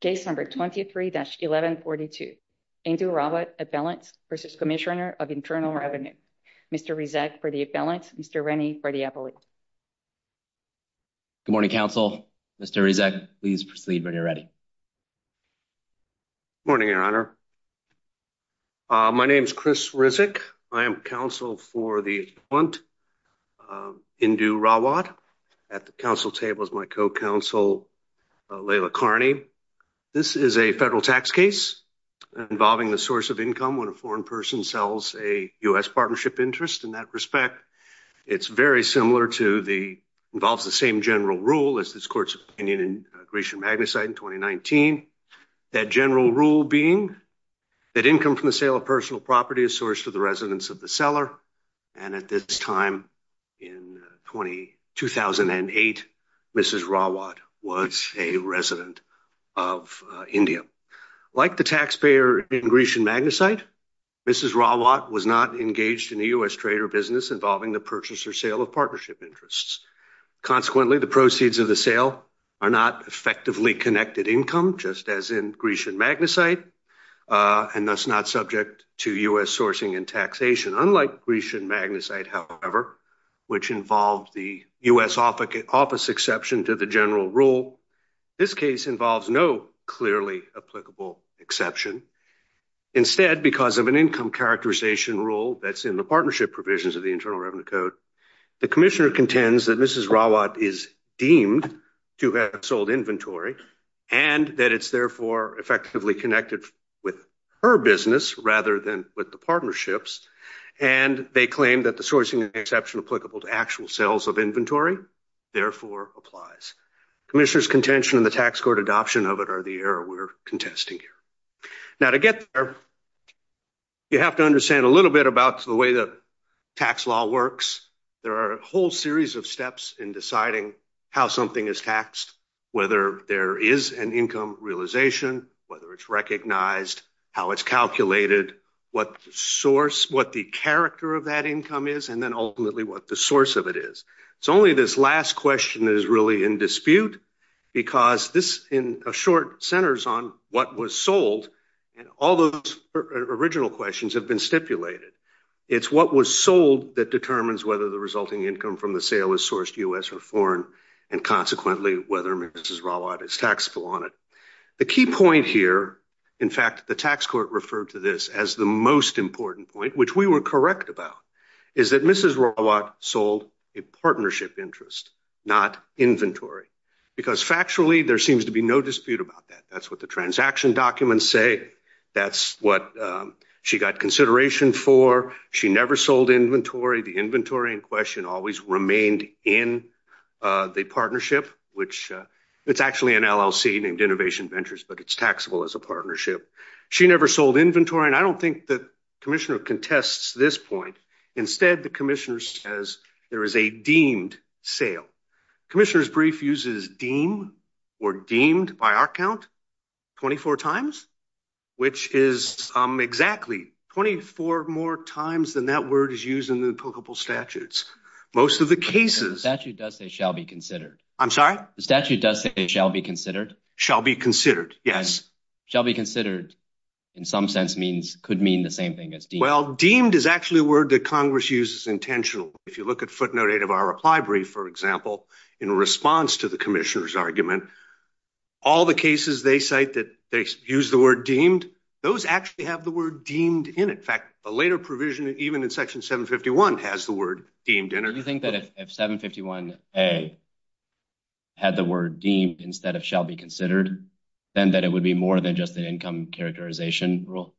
Case number 23-1142. Indu Rawat, Appellant v. Cmsnr of Internal Revenue. Mr. Rizek for the Appellant. Mr. Rennie for the Appellant. Good morning, Council. Mr. Rizek, please proceed when you're ready. Good morning, Your Honor. My name is Chris Rizek. I am counsel for the Appellant, Indu Rawat. At the Council table is my co-counsel, Layla Carney. This is a federal tax case involving the source of income when a foreign person sells a U.S. partnership interest. In that respect, it's very similar to the—involves the same general rule as this Court's opinion in Grecian Magnesite in 2019. That general rule being that income from the sale of personal property is sourced to the residence of the seller, and at this time in 2008, Mrs. Rawat was a resident of India. Like the taxpayer in Grecian Magnesite, Mrs. Rawat was not engaged in a U.S. trade or business involving the purchase or sale of partnership interests. Consequently, the proceeds of the sale are not effectively connected income, just as in Grecian Magnesite, and thus not subject to U.S. sourcing and taxation. Unlike Grecian Magnesite, however, which involved the U.S. office exception to the general rule, this case involves no clearly applicable exception. Instead, because of an income characterization rule that's in the partnership provisions of the Internal Revenue Code, the Commissioner contends that Mrs. Rawat is deemed to have sold inventory and that it's therefore effectively connected with her business rather than with the partnerships, and they claim that the sourcing exception applicable to actual sales of inventory therefore applies. Commissioner's contention and the tax court adoption of it are the error we're contesting here. Now, to get there, you have to understand a little bit about the way the there are a whole series of steps in deciding how something is taxed, whether there is an income realization, whether it's recognized, how it's calculated, what the source, what the character of that income is, and then ultimately what the source of it is. It's only this last question that is really in dispute because this, in a short, centers on what was sold, and all those original questions have been stipulated. It's what was sold that determines whether the resulting income from the sale is sourced U.S. or foreign, and consequently, whether Mrs. Rawat is taxable on it. The key point here, in fact, the tax court referred to this as the most important point, which we were correct about, is that Mrs. Rawat sold a partnership interest, not inventory, because factually there seems to be no dispute about that. That's what the transaction documents say. That's what she got consideration for. She never sold inventory. The inventory in question always remained in the partnership, which it's actually an LLC named Innovation Ventures, but it's taxable as a partnership. She never sold inventory, and I don't think the commissioner contests this point. Instead, the commissioner says there is a deemed sale. Commissioner's brief uses deem or deemed by our count 24 times, which is exactly 24 more times than that word is used in the applicable statutes. Most of the cases... The statute does say shall be considered. I'm sorry? The statute does say shall be considered. Shall be considered, yes. Shall be considered in some sense means could mean the same thing as deemed. Well, deemed is actually a word that Congress uses intentionally. If you look at footnote 8 of our reply brief, for example, in response to the commissioner's deemed, those actually have the word deemed in it. In fact, the later provision even in section 751 has the word deemed in it. Do you think that if 751A had the word deemed instead of shall be considered, then that it would be more than just an income characterization rule?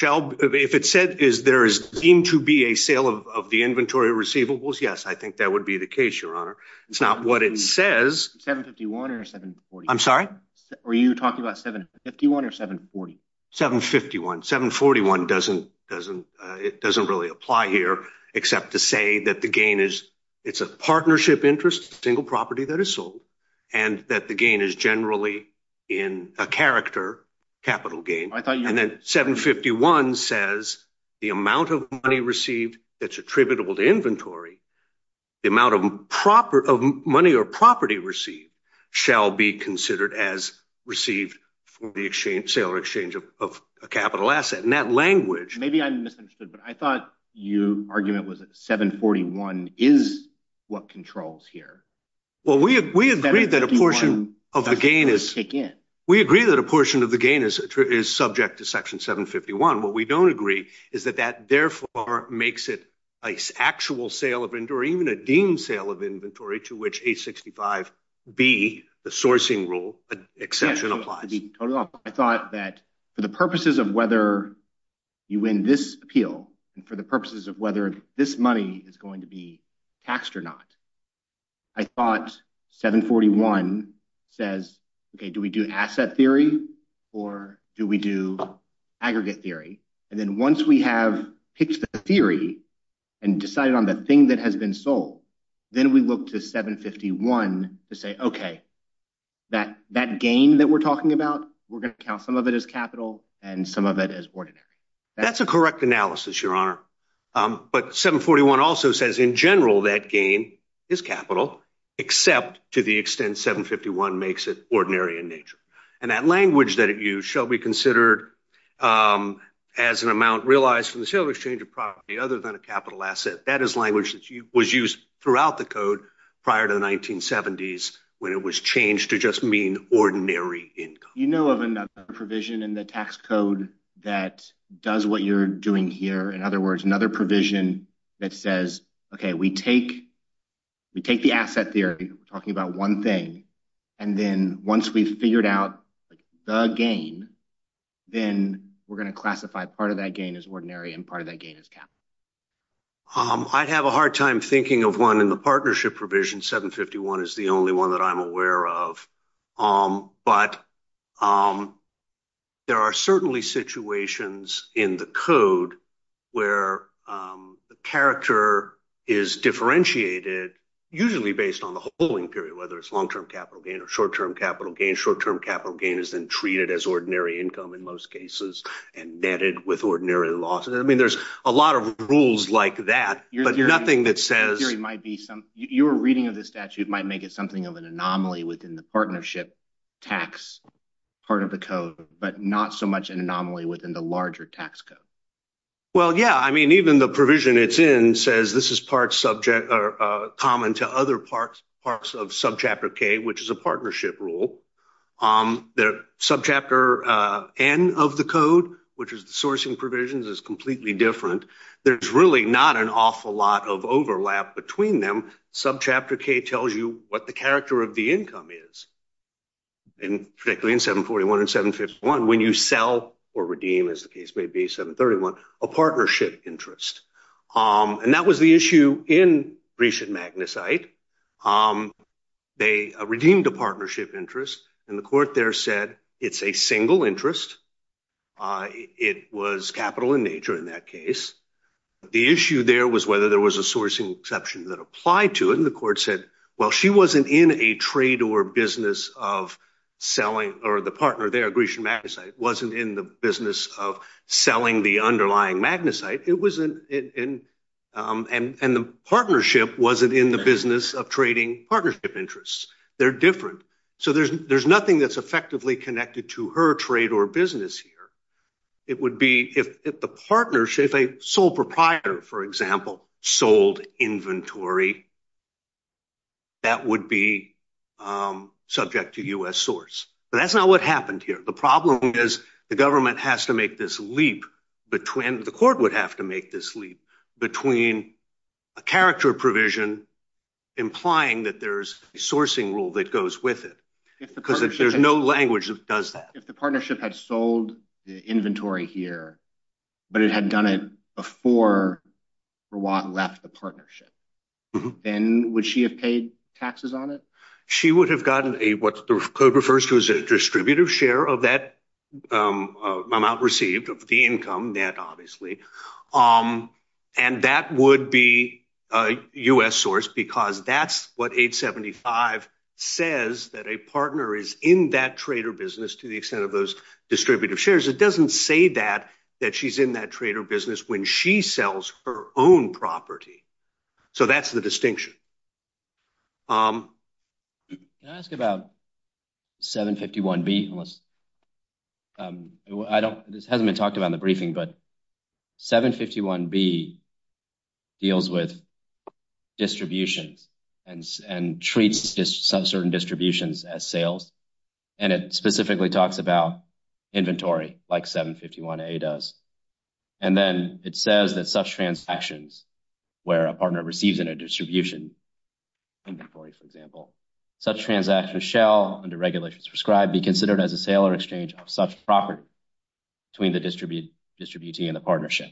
If it said there is deemed to be a sale of the inventory receivables, yes, I think that would be the case, your honor. It's not what it says. 751 or 740? I'm sorry? Are you talking about 751 or 740? 751. 741 doesn't really apply here except to say that the gain is it's a partnership interest, a single property that is sold, and that the gain is generally in a character capital gain. I thought you... And then 751 says the amount of money received that's attributable to inventory, the amount of money or property received shall be considered as received for the sale or exchange of a capital asset. In that language... Maybe I misunderstood, but I thought your argument was that 741 is what controls here. Well, we agree that a portion of the gain is... We agree that a portion of the gain is subject to section 751. What we don't agree is that that therefore makes it an actual sale of... Or even a deemed sale of inventory to which 865B, the sourcing rule, exception applies. I thought that for the purposes of whether you win this appeal and for the purposes of whether this money is going to be taxed or not, I thought 741 says, okay, do we do asset theory or do we do aggregate theory? And then once we have pitched the theory and decided on the thing that has been sold, then we look to 751 to say, okay, that gain that we're talking about, we're going to count some of it as capital and some of it as ordinary. That's a correct analysis, Your Honor. But 741 also says in general that gain is capital except to the extent 751 makes it ordinary in nature. And that language that it used shall be considered as an amount realized from the sale of exchange of property other than a capital asset. That is language that was used throughout the code prior to the 1970s when it was changed to just mean ordinary income. You know of another provision in the tax code that does what you're doing here. In other words, another provision that says, okay, we take the asset theory, we're talking about one thing, and then once we've figured out the gain, then we're going to classify part of that gain as ordinary and part of that gain as capital. I'd have a hard time thinking of one in the partnership provision. 751 is the only one that I'm aware of. But there are certainly situations in the code where the character is differentiated, usually based on the holding period, whether it's long-term capital gain or short-term capital gain. Short-term capital gain is then treated as ordinary income in most cases and netted with ordinary losses. I mean, there's a lot of rules like that, but nothing that says... Your reading of the statute might make it something of an anomaly within the partnership tax part of the code, but not so much an anomaly within the larger tax code. Well, yeah. I mean, even the provision it's in says this is common to other parts of Subchapter K, which is a partnership rule. Subchapter N of the code, which is the sourcing provisions, is completely different. There's really not an awful lot of overlap between them. Subchapter K tells you what the character of the income is, particularly in 741 and 751, when you sell or redeem, as the case may be, 731, a partnership interest. And that was the issue in Grecian Magnusite. They redeemed a partnership interest, and the court there said it's a single interest. It was capital in nature in that case. The issue there was whether there was a sourcing exception that applied to it. And the court said, well, she wasn't in a trade or business of selling or the partner there, Grecian Magnusite, wasn't in the business of selling the underlying Magnusite. And the partnership wasn't in the business of trading partnership interests. They're different. So there's nothing that's effectively connected to her trade or business here. It would be if the partnership, if a sole proprietor, for example, sold inventory, that would be subject to U.S. source. But that's not what happened here. The problem is the government has to make this leap between, the court would have to make this leap between a character provision implying that there's a sourcing rule that goes with it, because there's no language that does that. If the partnership had sold the inventory here, but it had done it for what left the partnership, then would she have paid taxes on it? She would have gotten a, what the code refers to as a distributive share of that amount received of the income net, obviously. And that would be a U.S. source because that's what 875 says that a partner is in that trade or business to the extent of those when she sells her own property. So that's the distinction. Can I ask about 751B? This hasn't been talked about in the briefing, but 751B deals with distributions and treats certain distributions as sales. And it specifically talks about and then it says that such transactions where a partner receives in a distribution, inventory for example, such transactions shall, under regulations prescribed, be considered as a sale or exchange of such property between the distributee and the partnership.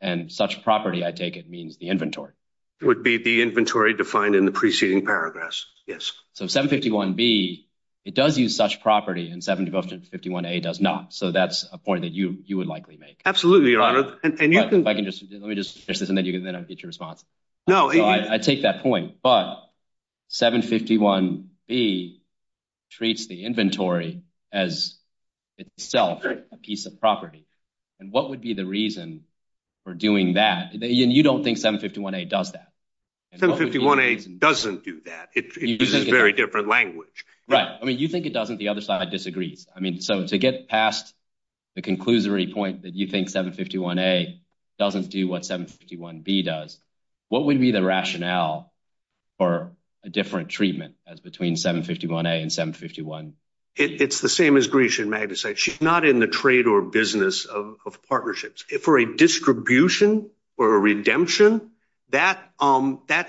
And such property, I take it, means the inventory. It would be the inventory defined in the preceding paragraphs, yes. So 751B, it does use such property and 751A does not. So that's a question. Let me just finish this and then I'll get your response. I take that point, but 751B treats the inventory as itself a piece of property. And what would be the reason for doing that? And you don't think 751A does that. 751A doesn't do that. It uses very different language. Right. I mean, you think it doesn't, the other side disagrees. I mean, so to get past the conclusory point that you think 751A doesn't do what 751B does, what would be the rationale for a different treatment as between 751A and 751B? It's the same as Grisha and Magda said. She's not in the trade or business of partnerships. For a distribution or a redemption, that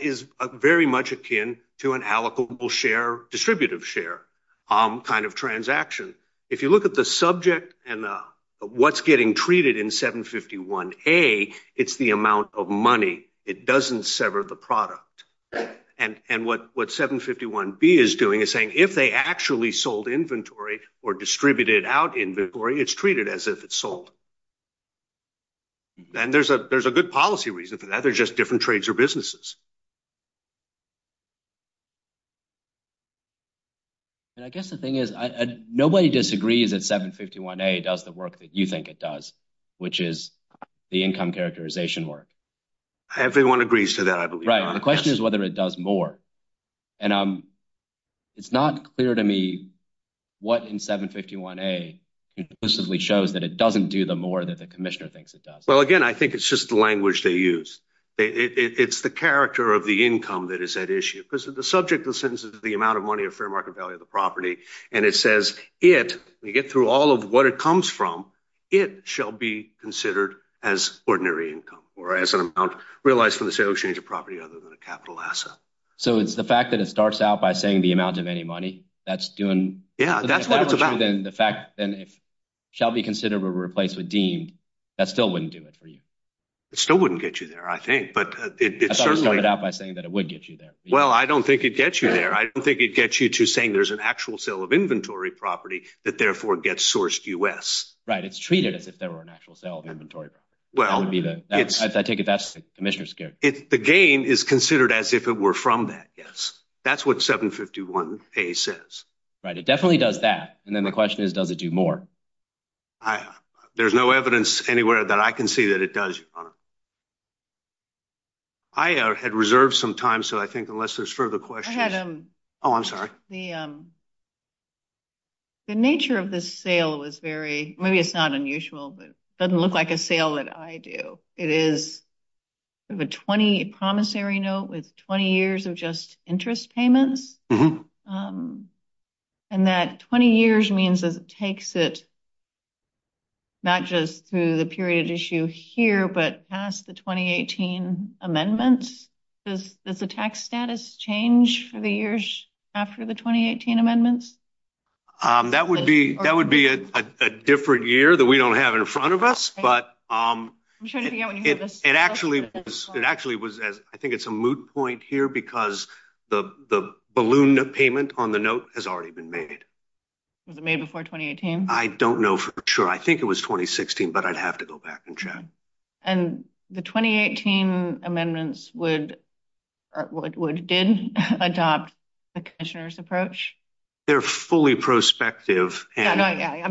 is very much akin to an allocable share, distributive share kind of transaction. If you look at the subject and what's getting treated in 751A, it's the amount of money. It doesn't sever the product. And what 751B is doing is saying, if they actually sold inventory or distributed out inventory, it's treated as if it's sold. And there's a good policy reason for that. Just different trades or businesses. And I guess the thing is, nobody disagrees that 751A does the work that you think it does, which is the income characterization work. Everyone agrees to that, I believe. Right. The question is whether it does more. And it's not clear to me what in 751A exclusively shows that it doesn't do the more that the it's the character of the income that is at issue. Because the subject in a sense is the amount of money or fair market value of the property. And it says it, we get through all of what it comes from, it shall be considered as ordinary income or as an amount realized for the sale exchange of property other than a capital asset. So it's the fact that it starts out by saying the amount of any money that's doing. Yeah, that's what it's about. Then the fact then if shall be considered or replaced with deemed, that still wouldn't do it for you. It still wouldn't get you there, I think. But it's certainly coming out by saying that it would get you there. Well, I don't think it gets you there. I don't think it gets you to saying there's an actual sale of inventory property that therefore gets sourced U.S. Right. It's treated as if there were an actual sale of inventory. Well, I take it that's the commissioner's. The gain is considered as if it were from that. Yes, that's what 751A says. Right. It definitely does that. And then the question is, does it do more? I there's no evidence anywhere that I can see that it does. I had reserved some time, so I think unless there's further questions. Oh, I'm sorry. The nature of this sale was very maybe it's not unusual, but doesn't look like a sale that I do. It is a 20 promissory note with 20 years of just interest payments. Mm hmm. And that 20 years means it takes it. Not just through the period issue here, but past the 2018 amendments, there's a tax status change for the years after the 2018 amendments. That would be that would be a different year that we don't have in front of us. But I'm sure it actually was. It actually was. I think it's a moot point here because the balloon payment on the note has already been made. Was it made before 2018? I don't know for sure. I think it was 2016, but I'd have to go back and check. And the 2018 amendments would did adopt the commissioner's approach. They're fully prospective. I'm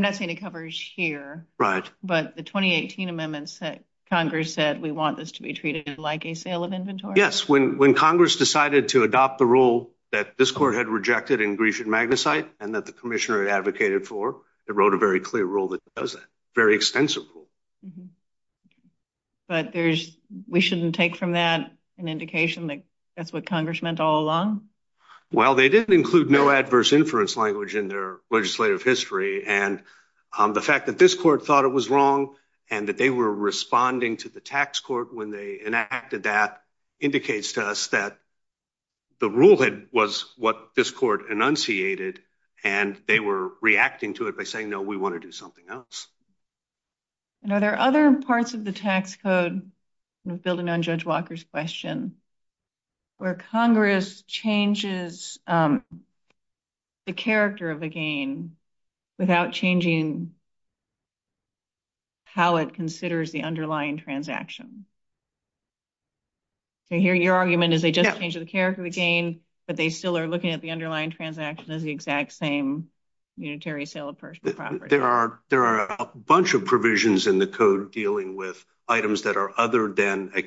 not saying it covers here, but the 2018 amendments that Congress said, we want this to be treated like a sale of inventory. Yes. When Congress decided to adopt the rule that this court had rejected in Grecian Magnesite and that the commissioner had advocated for, it wrote a very clear rule that does that very extensive rule. But there's we shouldn't take from that an indication that that's what Congress meant all along. Well, they didn't include no adverse inference language in their legislative history. And the fact that this court thought it was wrong and that they were responding to the tax court when they enacted that indicates to us that the rulehead was what this court enunciated. And they were reacting to it by saying, no, we want to do something else. And are there other parts of the tax code building on Judge Walker's question where Congress changes the character of the gain without changing how it considers the underlying transaction? So here your argument is they just change the character of the gain, but they still are looking at the underlying transaction as the exact same unitary sale of personal property. There are a bunch of provisions in the code dealing with a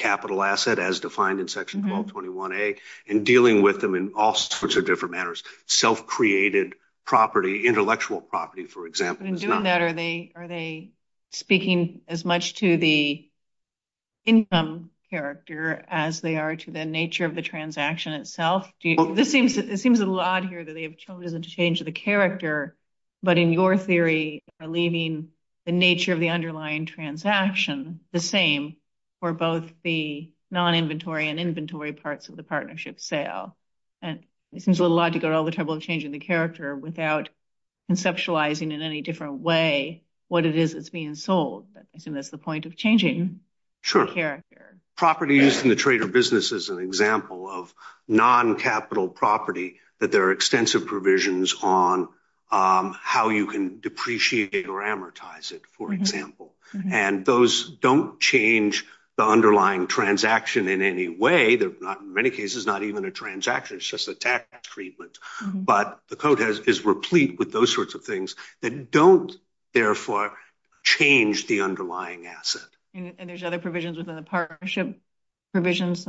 capital asset as defined in Section 1221A and dealing with them in all sorts of different matters. Self-created intellectual property, for example. In doing that, are they speaking as much to the income character as they are to the nature of the transaction itself? It seems a little odd here that they have chosen to change the character, but in your theory are leaving the nature of the for both the non-inventory and inventory parts of the partnership sale. And it seems a little odd to go to all the trouble of changing the character without conceptualizing in any different way what it is that's being sold. I assume that's the point of changing the character. Properties in the trade or business is an example of non-capital property that there are extensive provisions on how you can depreciate or amortize it, for example. And those don't change the underlying transaction in any way. In many cases, it's not even a transaction. It's just a tax treatment. But the code is replete with those sorts of things that don't, therefore, change the underlying asset. And there's other provisions within the partnership provisions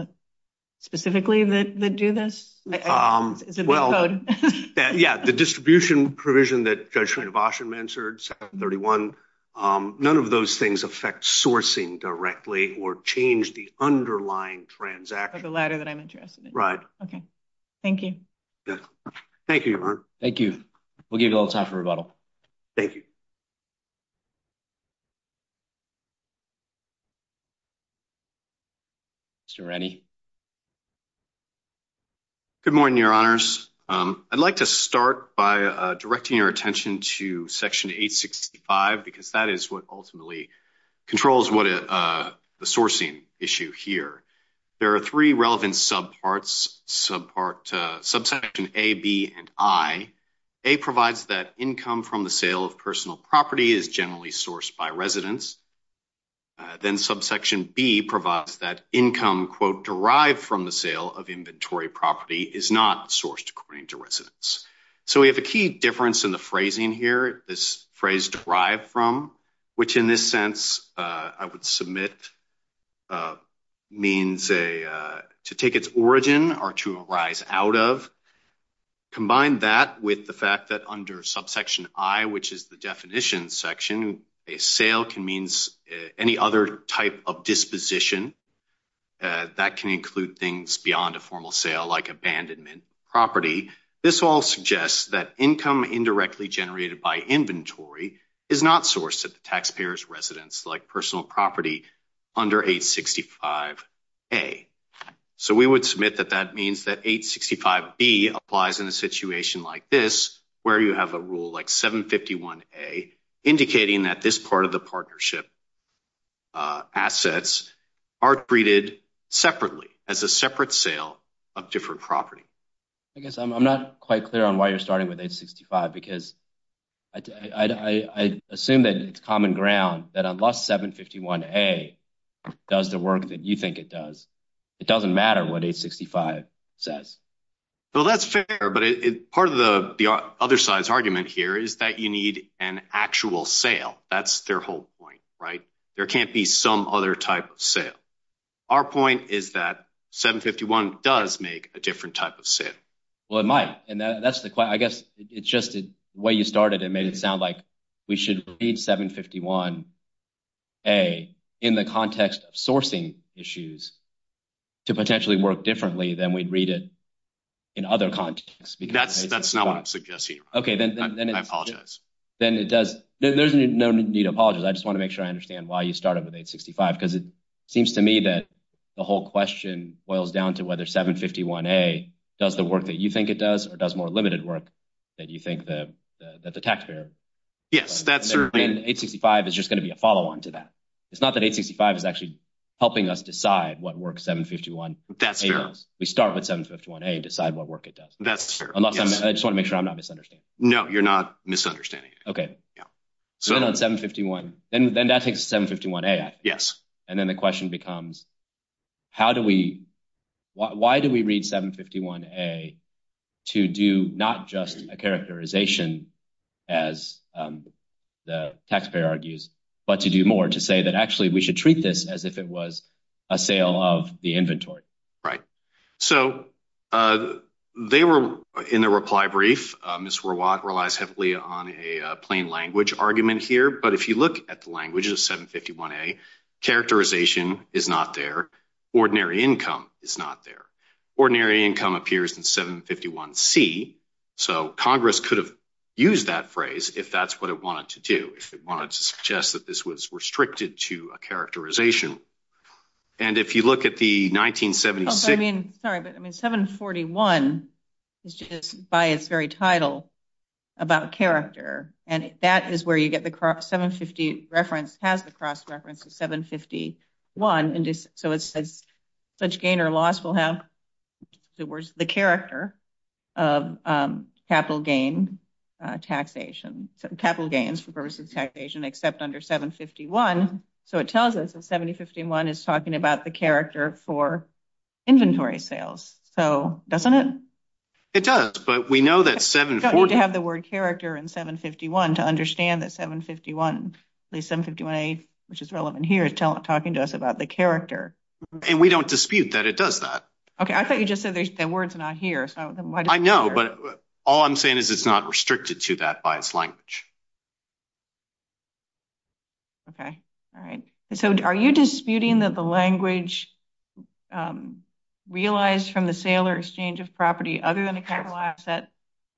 specifically that do this? Is it the code? Yeah, the distribution provision that Judge Srinivasan mentored, 731, none of those things affect sourcing directly or change the underlying transaction. The latter that I'm interested in. Right. Okay. Thank you. Thank you, Your Honor. Thank you. We'll give you a little time for rebuttal. Thank you. Mr. Rennie. Good morning, Your Honors. I'd like to start by directing your attention to Section 865, because that is what ultimately controls the sourcing issue here. There are three relevant subparts. Subsection A, B, and I. A provides that income from the sale of personal property is generally sourced by residents. Then Subsection B provides that income, quote, derived from the sale of inventory property is not sourced according to residents. So, we have a key difference in the phrasing here, this phrase derived from, which in this sense, I would submit means to take its origin or to arise out of. Combine that with the fact that under Subsection I, which is the definition section, a sale can means any other type of beyond a formal sale like abandonment property. This all suggests that income indirectly generated by inventory is not sourced at the taxpayer's residence like personal property under 865A. So, we would submit that that means that 865B applies in a situation like this, where you have a rule like 751A indicating that this part of the partnership of assets are treated separately as a separate sale of different property. I guess I'm not quite clear on why you're starting with 865 because I assume that it's common ground that unless 751A does the work that you think it does, it doesn't matter what 865 says. Well, that's fair, but part of the other side's argument here is that you need an actual sale. That's their whole point, right? There can't be some other type of sale. Our point is that 751 does make a different type of sale. Well, it might. I guess it's just the way you started it made it sound like we should read 751A in the context of sourcing issues to potentially work differently than we'd read it in other contexts. That's not what I'm suggesting. Okay, then there's no need to apologize. I just want to make sure I understand why you started with 865 because it seems to me that the whole question boils down to whether 751A does the work that you think it does or does more limited work than you think that the taxpayer. Yes, that's true. And 865 is just going to be a follow-on to that. It's not that 865 is actually helping us decide what work 751A does. That's fair. We start with 751A and decide what work it does. That's fair. I just want to make sure I'm not misunderstanding. No, you're not misunderstanding. Okay. Then on 751, then that takes 751A. Yes. And then the question becomes, why do we read 751A to do not just a characterization, as the taxpayer argues, but to do more to say that actually we should treat this as if it was a sale of the inventory? Right. So they were in the reply brief. Ms. Rawat relies heavily on a plain language argument here. But if you look at the language of 751A, characterization is not there. Ordinary income is not there. Ordinary income appears in 751C. So Congress could have used that phrase if that's what it wanted to do, if it wanted to suggest that this was restricted to a characterization. And if you look at the 1976- I'm sorry, but I mean, 741 is just by its very title about character. And that is where you get the 750 reference, has the cross-reference of 751. So it says, such gain or loss will have, in other words, the character of capital gains for purposes of taxation, except under 751. So it tells us that 751 is talking about the character for inventory sales. So doesn't it? It does, but we know that 741- You don't need to have the word character in 751 to understand that 751, at least 751A, which is relevant here, is talking to us about the character. And we don't dispute that it does that. Okay, I thought you just said the words are not here. I know, but all I'm saying is it's not restricted to that by its language. Okay, all right. So are you disputing that the language realized from the sale or exchange of property other than a capital asset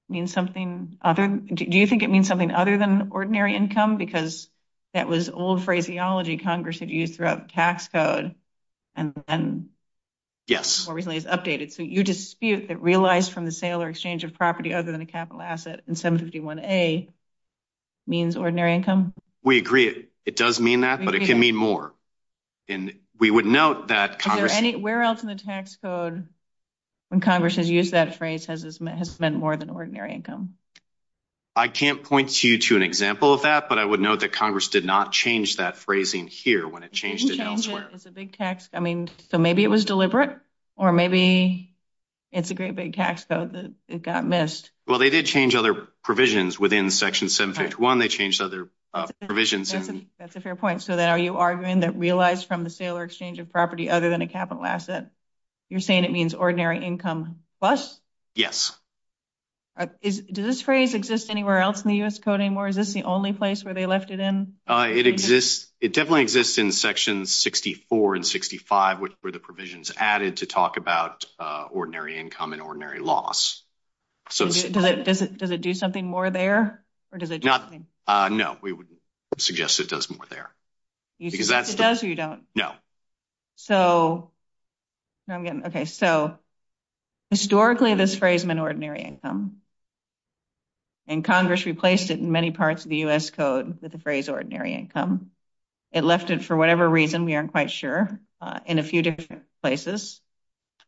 means something other- do you think it means something other than ordinary income? Because that was old phraseology Congress had used throughout the tax code. And then- Yes. More recently it's updated. So you dispute that realized from the sale or exchange of property other than a capital asset in 751A means ordinary income? We agree. It does mean that, but it can mean more. And we would note that Congress- Is there any- where else in the tax code when Congress has used that phrase has meant more than ordinary income? I can't point you to an example of that, but I would note that Congress did not change that phrasing here when it changed it elsewhere. It didn't change it. It's a big tax- I mean, so maybe it was deliberate, or maybe it's a great big tax code that it got missed. Well, they did change other provisions within Section 751. They changed other provisions. That's a fair point. So then are you arguing that realized from the sale or exchange of property other than a capital asset, you're saying it means ordinary income plus? Yes. Does this phrase exist anywhere else in the U.S. Code anymore? Is this the only place where they left it in? It exists. It definitely exists in Sections 64 and 65, which were the provisions added to talk about ordinary income and ordinary loss. Does it do something more there? Or does it- No, we would suggest it does more there. You suggest it does or you don't? No. So, no, I'm getting- okay. So, historically, this phrase meant ordinary income. And Congress replaced it in many parts of the U.S. Code with the phrase ordinary income. It left it for whatever reason, we aren't quite sure, in a few different places.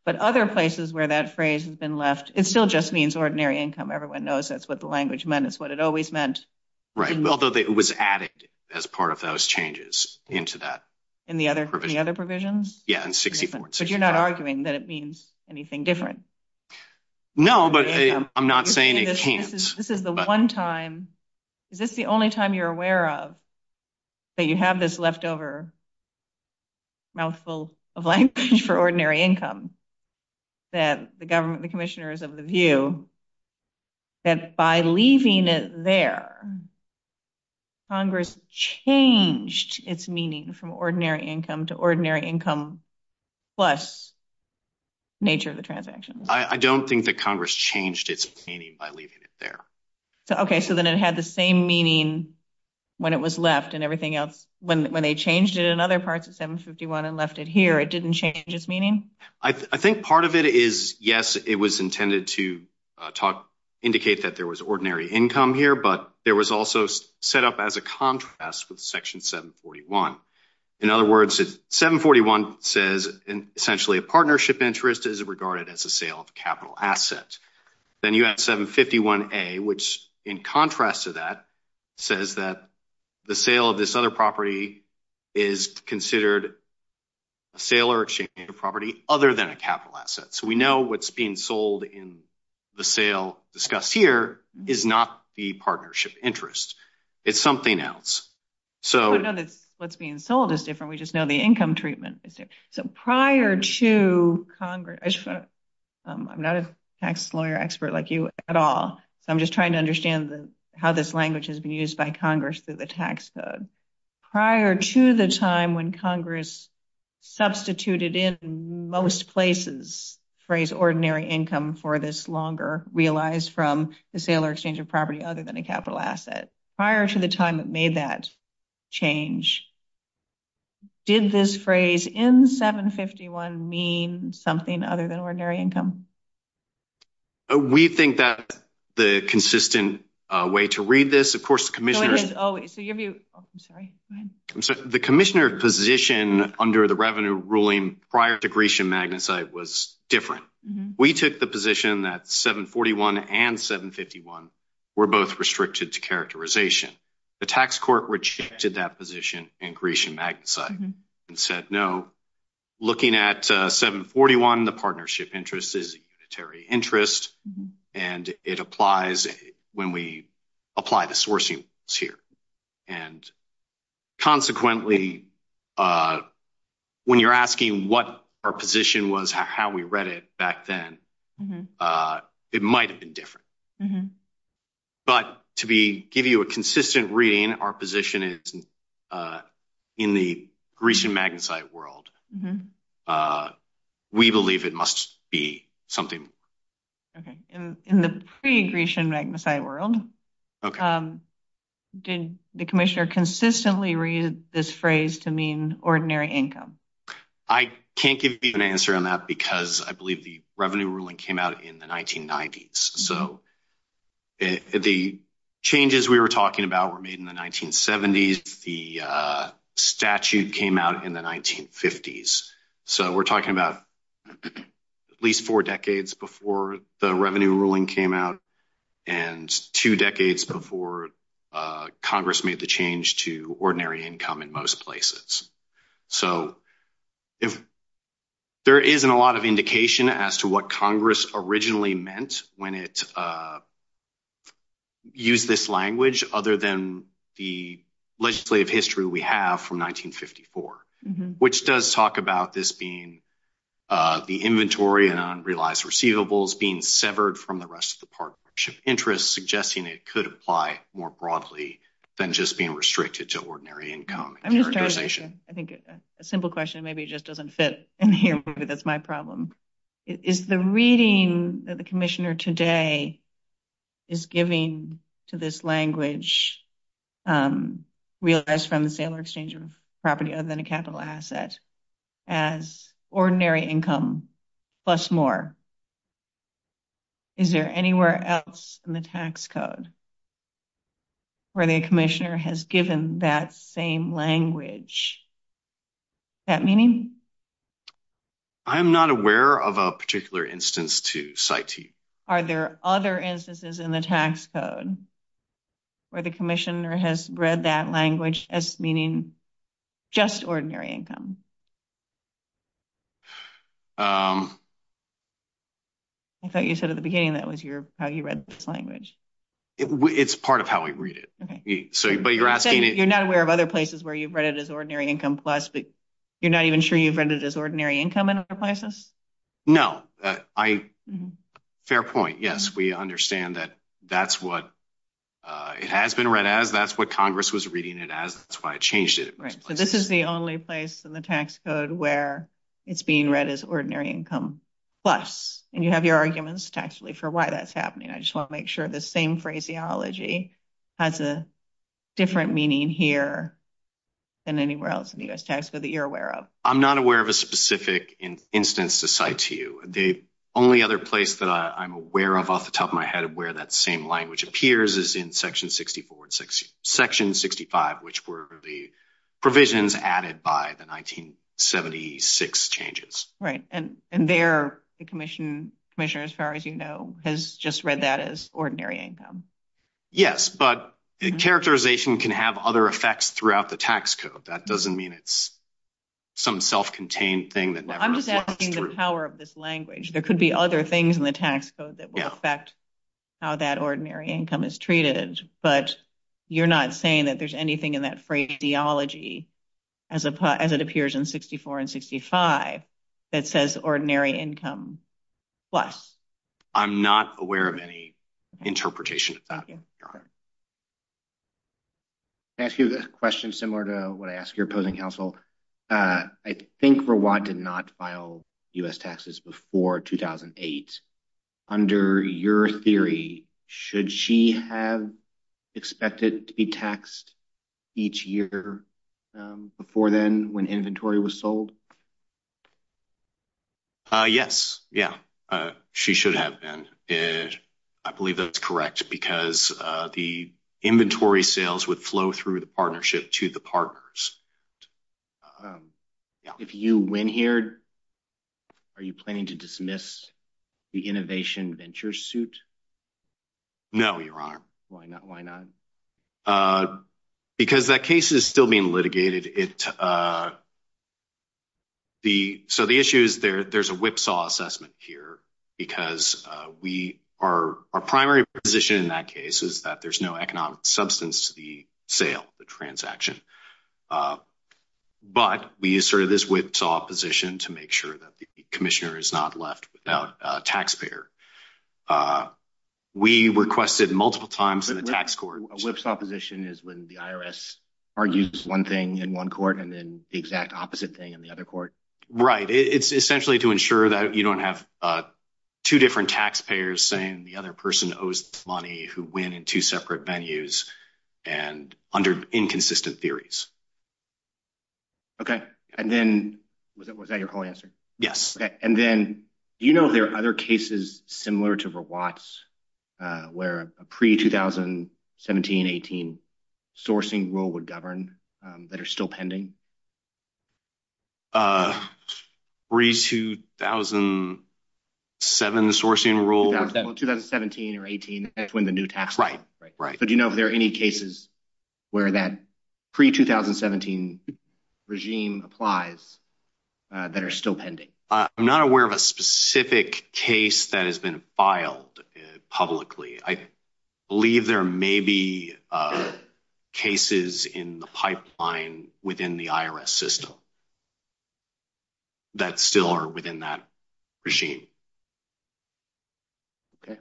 But other places where that phrase has been left, it still just means ordinary income. Everyone knows that's what the language meant. It's what it always meant. Right. Although it was added as part of those changes into that. In the other provisions? Yeah, in 64 and 65. But you're not arguing that it means anything different? No, but I'm not saying it can't. This is the one time- is this the only time you're aware of that you have this leftover mouthful of language for ordinary income? That the government, the commissioners have the view that by leaving it there, Congress changed its meaning from ordinary income to ordinary income plus nature of the transactions. I don't think that Congress changed its meaning by leaving it there. Okay, so then it had the same meaning when it was left and everything else- when they changed it in other parts of 751 and left it here, it didn't change its meaning? I think part of it is, yes, it was intended to indicate that there was ordinary income here, but there was also set up as a contrast with sale of a capital asset. Then you have 751A, which in contrast to that, says that the sale of this other property is considered a sale or exchange of property other than a capital asset. So we know what's being sold in the sale discussed here is not the partnership interest. It's something else. We know what's being sold is different, we just know the income treatment is different. So prior to Congress- I'm not a tax lawyer expert like you at all, so I'm just trying to understand how this language has been used by Congress through the tax code. Prior to the time when Congress substituted in most places phrase ordinary income for this longer realized from the sale or exchange of property other than a capital asset, prior to the time that made that change, did this phrase in 751 mean something other than ordinary income? We think that the consistent way to read this, of course, commissioners- The commissioner position under the revenue ruling prior to Grecian Magnesite was different. We took the position that 741 and 751 were both restricted to characterization. The tax court rejected that position in Grecian Magnesite and said no. Looking at 741, the partnership interest is a unitary interest, and it applies when we apply the sourcing rules here. And consequently, when you're asking what our position was, how we read it back then, it might have been different. But to give you a consistent reading, our position is in the Grecian Magnesite world. We believe it must be something. Okay, in the pre-Grecian Magnesite world, did the commissioner consistently read this phrase to mean ordinary income? I can't give you an answer on that because I believe the revenue ruling came out in the 1990s. So the changes we were talking about were made in the 1970s. The statute came out in the 1950s. So we're talking about at least four decades before the revenue ruling came out and two decades before Congress made the change to ordinary income in most places. So there isn't a lot of indication as to what Congress originally meant when it used this language other than the legislative history we have from 1954, which does talk about this being the inventory and unrealized receivables being severed from the rest of the partnership interest, suggesting it could apply more broadly than just being restricted to ordinary income. I think a simple question, maybe it just doesn't fit in here, but that's my problem. Is the reading that the commissioner today is giving to this language realized from the sale or exchange of property other than a capital asset as ordinary income plus more, is there anywhere else in the tax code where the commissioner has given that same language that meaning? I'm not aware of a particular instance to cite to you. Are there other instances in the tax code where the commissioner has read that language as meaning just ordinary income? I thought you said at the beginning that was how you read this language. It's part of how we read it. You're not aware of other places where you've read it as ordinary income plus, but you're not even sure you've read it as ordinary income in other places? No. Fair point, yes. We understand that that's what it has been read as. That's what Congress was reading it as. That's why I changed it. So this is the only place in the tax code where it's being read as ordinary income plus, and you have your arguments tax relief for why that's happening. I just want to make sure the same phraseology has a different meaning here than anywhere else in the U.S. tax code that you're aware of. I'm not aware of a specific instance to cite to you. The only other place that I'm aware of off the top of my head of where that same language appears is in section 65, which were the provisions added by the 1976 changes. Right, and there the commissioner, as far as you know, has just read that as ordinary income. Yes, but characterization can have other effects throughout the tax code. That doesn't mean it's some self-contained thing. Well, I'm just asking the power of this language. There could be other things in the tax code that will affect how that ordinary income is treated, but you're not saying that there's anything in that phraseology, as it appears in 64 and 65, that says ordinary income plus. I'm not aware of any interpretation of that. I'll ask you a question similar to what I ask your opposing counsel. I think Rwanda did not file U.S. taxes before 2008. Under your theory, should she have expected to be taxed each year before then when inventory was sold? Yes, yeah, she should have been. I believe that's correct because the inventory sales would flow through the partnership to the partners. If you win here, are you planning to dismiss the innovation venture suit? No, your honor. Why not? Why not? Because that case is still being litigated. So the issue is there's a whipsaw assessment here because our primary position in that case is that there's no economic substance to the sale, the transaction. But we asserted this whipsaw position to make sure that the commissioner is not left without a taxpayer. We requested multiple times in the tax court. A whipsaw position is when the IRS argues one thing in one court and then the exact opposite thing in the other court. Right. It's essentially to ensure that you don't have two different taxpayers saying the other person owes the money who win in two separate venues and under inconsistent theories. Okay. And then was that your whole answer? Yes. And then do you know if there are other cases similar to Verwatt's where a pre-2017-18 sourcing rule would govern that are still pending? Pre-2007 sourcing rule? 2017 or 18, that's when the new tax. Right, right. But do you know if there are any cases where that pre-2017 regime applies that are still pending? I'm not aware of a specific case that has been filed publicly. I believe there may be cases in the pipeline within the IRS system. That still are within that regime. Okay.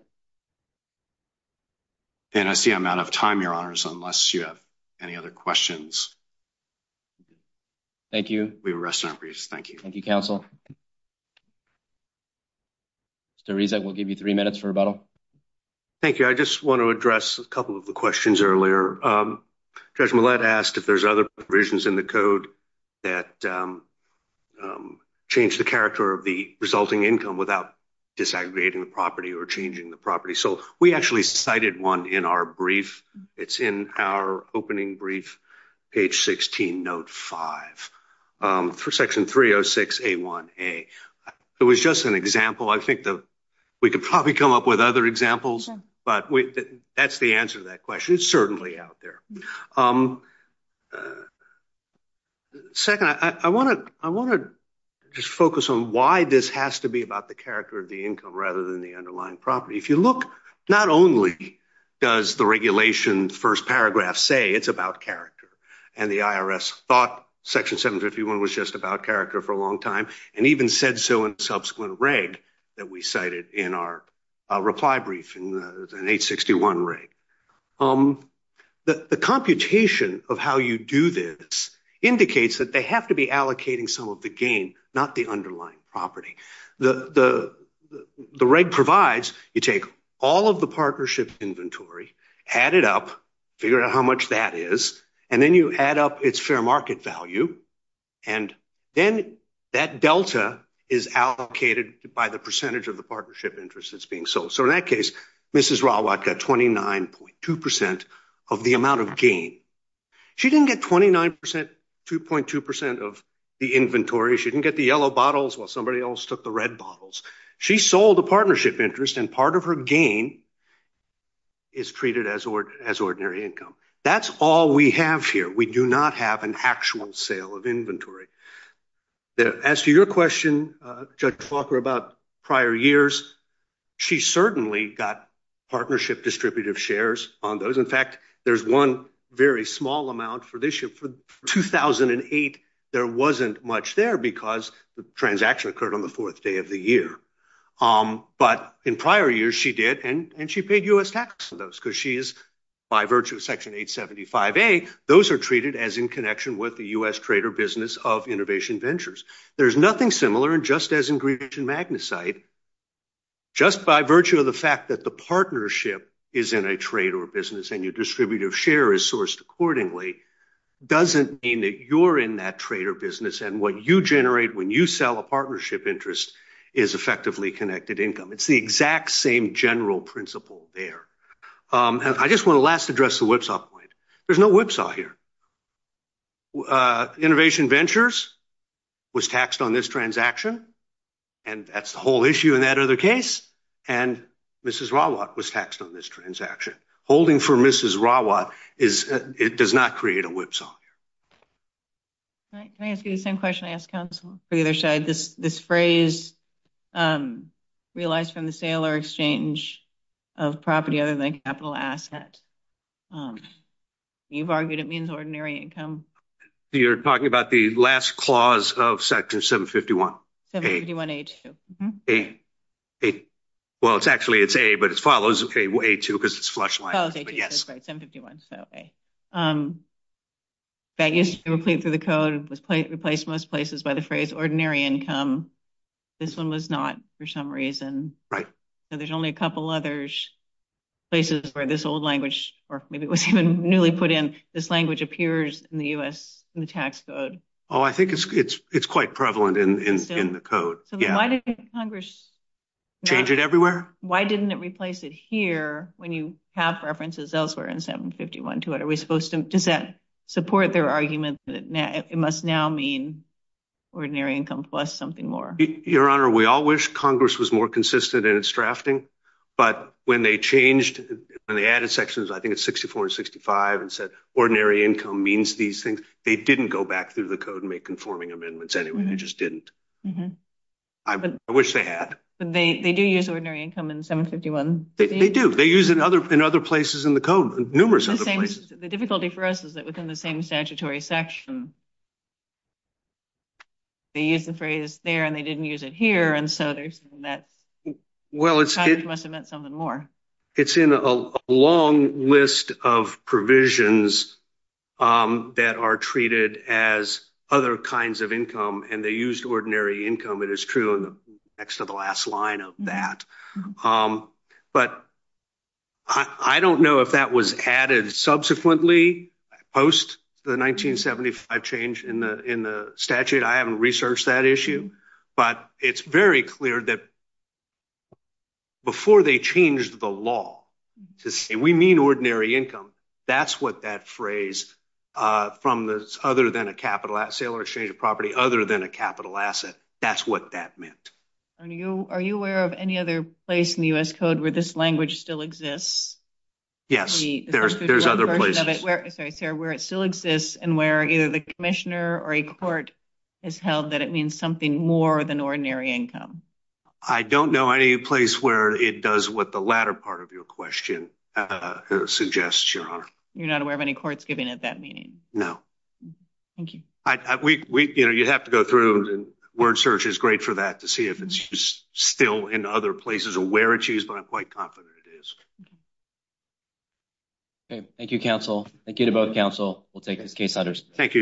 And I see I'm out of time, your honors, unless you have any other questions. Thank you. We will rest our briefs. Thank you. Thank you, counsel. Mr. Rezek, we'll give you three minutes for rebuttal. Thank you. I just want to address a couple of the questions earlier. Judge Millett asked if there's other provisions in the code that change the character of the resulting income without disaggregating the property or changing the property. So we actually cited one in our brief. It's in our opening brief, page 16, note 5, section 306A1A. It was just an example. I think that we could probably come up with other examples. But that's the answer to that question. Certainly out there. Second, I want to just focus on why this has to be about the character of the income rather than the underlying property. If you look, not only does the regulation first paragraph say it's about character, and the IRS thought section 751 was just about character for a long time, and even said so in subsequent reg that we cited in our reply brief in 861 reg. The computation of how you do this indicates that they have to be allocating some of the gain, not the underlying property. The reg provides, you take all of the partnership inventory, add it up, figure out how much that is, and then you add up its fair market value. And then that delta is allocated by the percentage of the partnership interest that's being sold. So in that case, Mrs. Rawat got 29.2% of the amount of gain. She didn't get 29.2% of the inventory. She didn't get the yellow bottles while somebody else took the red bottles. She sold a partnership interest, and part of her gain is treated as ordinary income. That's all we have here. We do not have an actual sale of inventory. As to your question, Judge Falker, about prior years, she certainly got partnership distributive shares on those. In fact, there's one very small amount for this year. For 2008, there wasn't much there because the transaction occurred on the fourth day of the year. But in prior years, she did, and she paid U.S. tax on those because she is, by virtue of section 875A, those are treated as in connection with the U.S. trade or business of innovation ventures. There's nothing similar, and just as in Grecian Magnesite, just by virtue of the fact that the partnership is in a trade or business and your distributive share is sourced accordingly doesn't mean that you're in that trade or business, and what you generate when you sell a partnership interest is effectively connected income. It's the exact same general principle there. I just want to last address the whipsaw point. There's no whipsaw here. Innovation Ventures was taxed on this transaction, and that's the whole issue in that other case, and Mrs. Rawat was taxed on this transaction. Holding for Mrs. Rawat, it does not create a whipsaw here. Can I ask you the same question I asked counsel for the other side? This phrase realized from the sale or exchange of property other than capital asset. Um, you've argued it means ordinary income. You're talking about the last clause of section 751. 751A2. Well, it's actually it's A, but it follows A2 because it's flush line, but yes. Right, 751, so A. That used to be replaced through the code was replaced most places by the phrase ordinary income. This one was not for some reason. Right. There's only a couple others. Places where this old language or maybe it was even newly put in. This language appears in the US in the tax code. Oh, I think it's it's it's quite prevalent in the code. So why did Congress change it everywhere? Why didn't it replace it here when you have references elsewhere in 751 to it? Are we supposed to? Does that support their argument that it must now mean ordinary income plus something more? Your Honor, we all wish Congress was more consistent in its drafting. But when they changed when they added sections, I think it's 64 and 65 and said ordinary income means these things. They didn't go back through the code and make conforming amendments. Anyway, they just didn't. I wish they had. They do use ordinary income in 751. They do. They use it in other in other places in the code. Numerous other places. The difficulty for us is that within the same statutory section. They use the phrase there and they didn't use it here. And so there's that. Well, it's it must have meant something more. It's in a long list of provisions that are treated as other kinds of income and they used ordinary income. It is true. And the next to the last line of that. But I don't know if that was added subsequently post the 1975 amendment. I've changed in the in the statute. I haven't researched that issue, but it's very clear that. Before they changed the law to say we mean ordinary income. That's what that phrase from the other than a capital at sale or exchange of property other than a capital asset. That's what that meant. Are you aware of any other place in the US code where this language still exists? Yes, there's there's other places where it still exists and where either the commissioner or a court has held that it means something more than ordinary income. I don't know any place where it does what the latter part of your question suggests, Your Honor. You're not aware of any courts giving it that meaning? No. Thank you. You know, you have to go through word search is great for that to see if it's still in other places or where it is, but I'm quite confident it is. Thank you, counsel. Thank you to both counsel. We'll take this case letters. Thank you, Your Honor.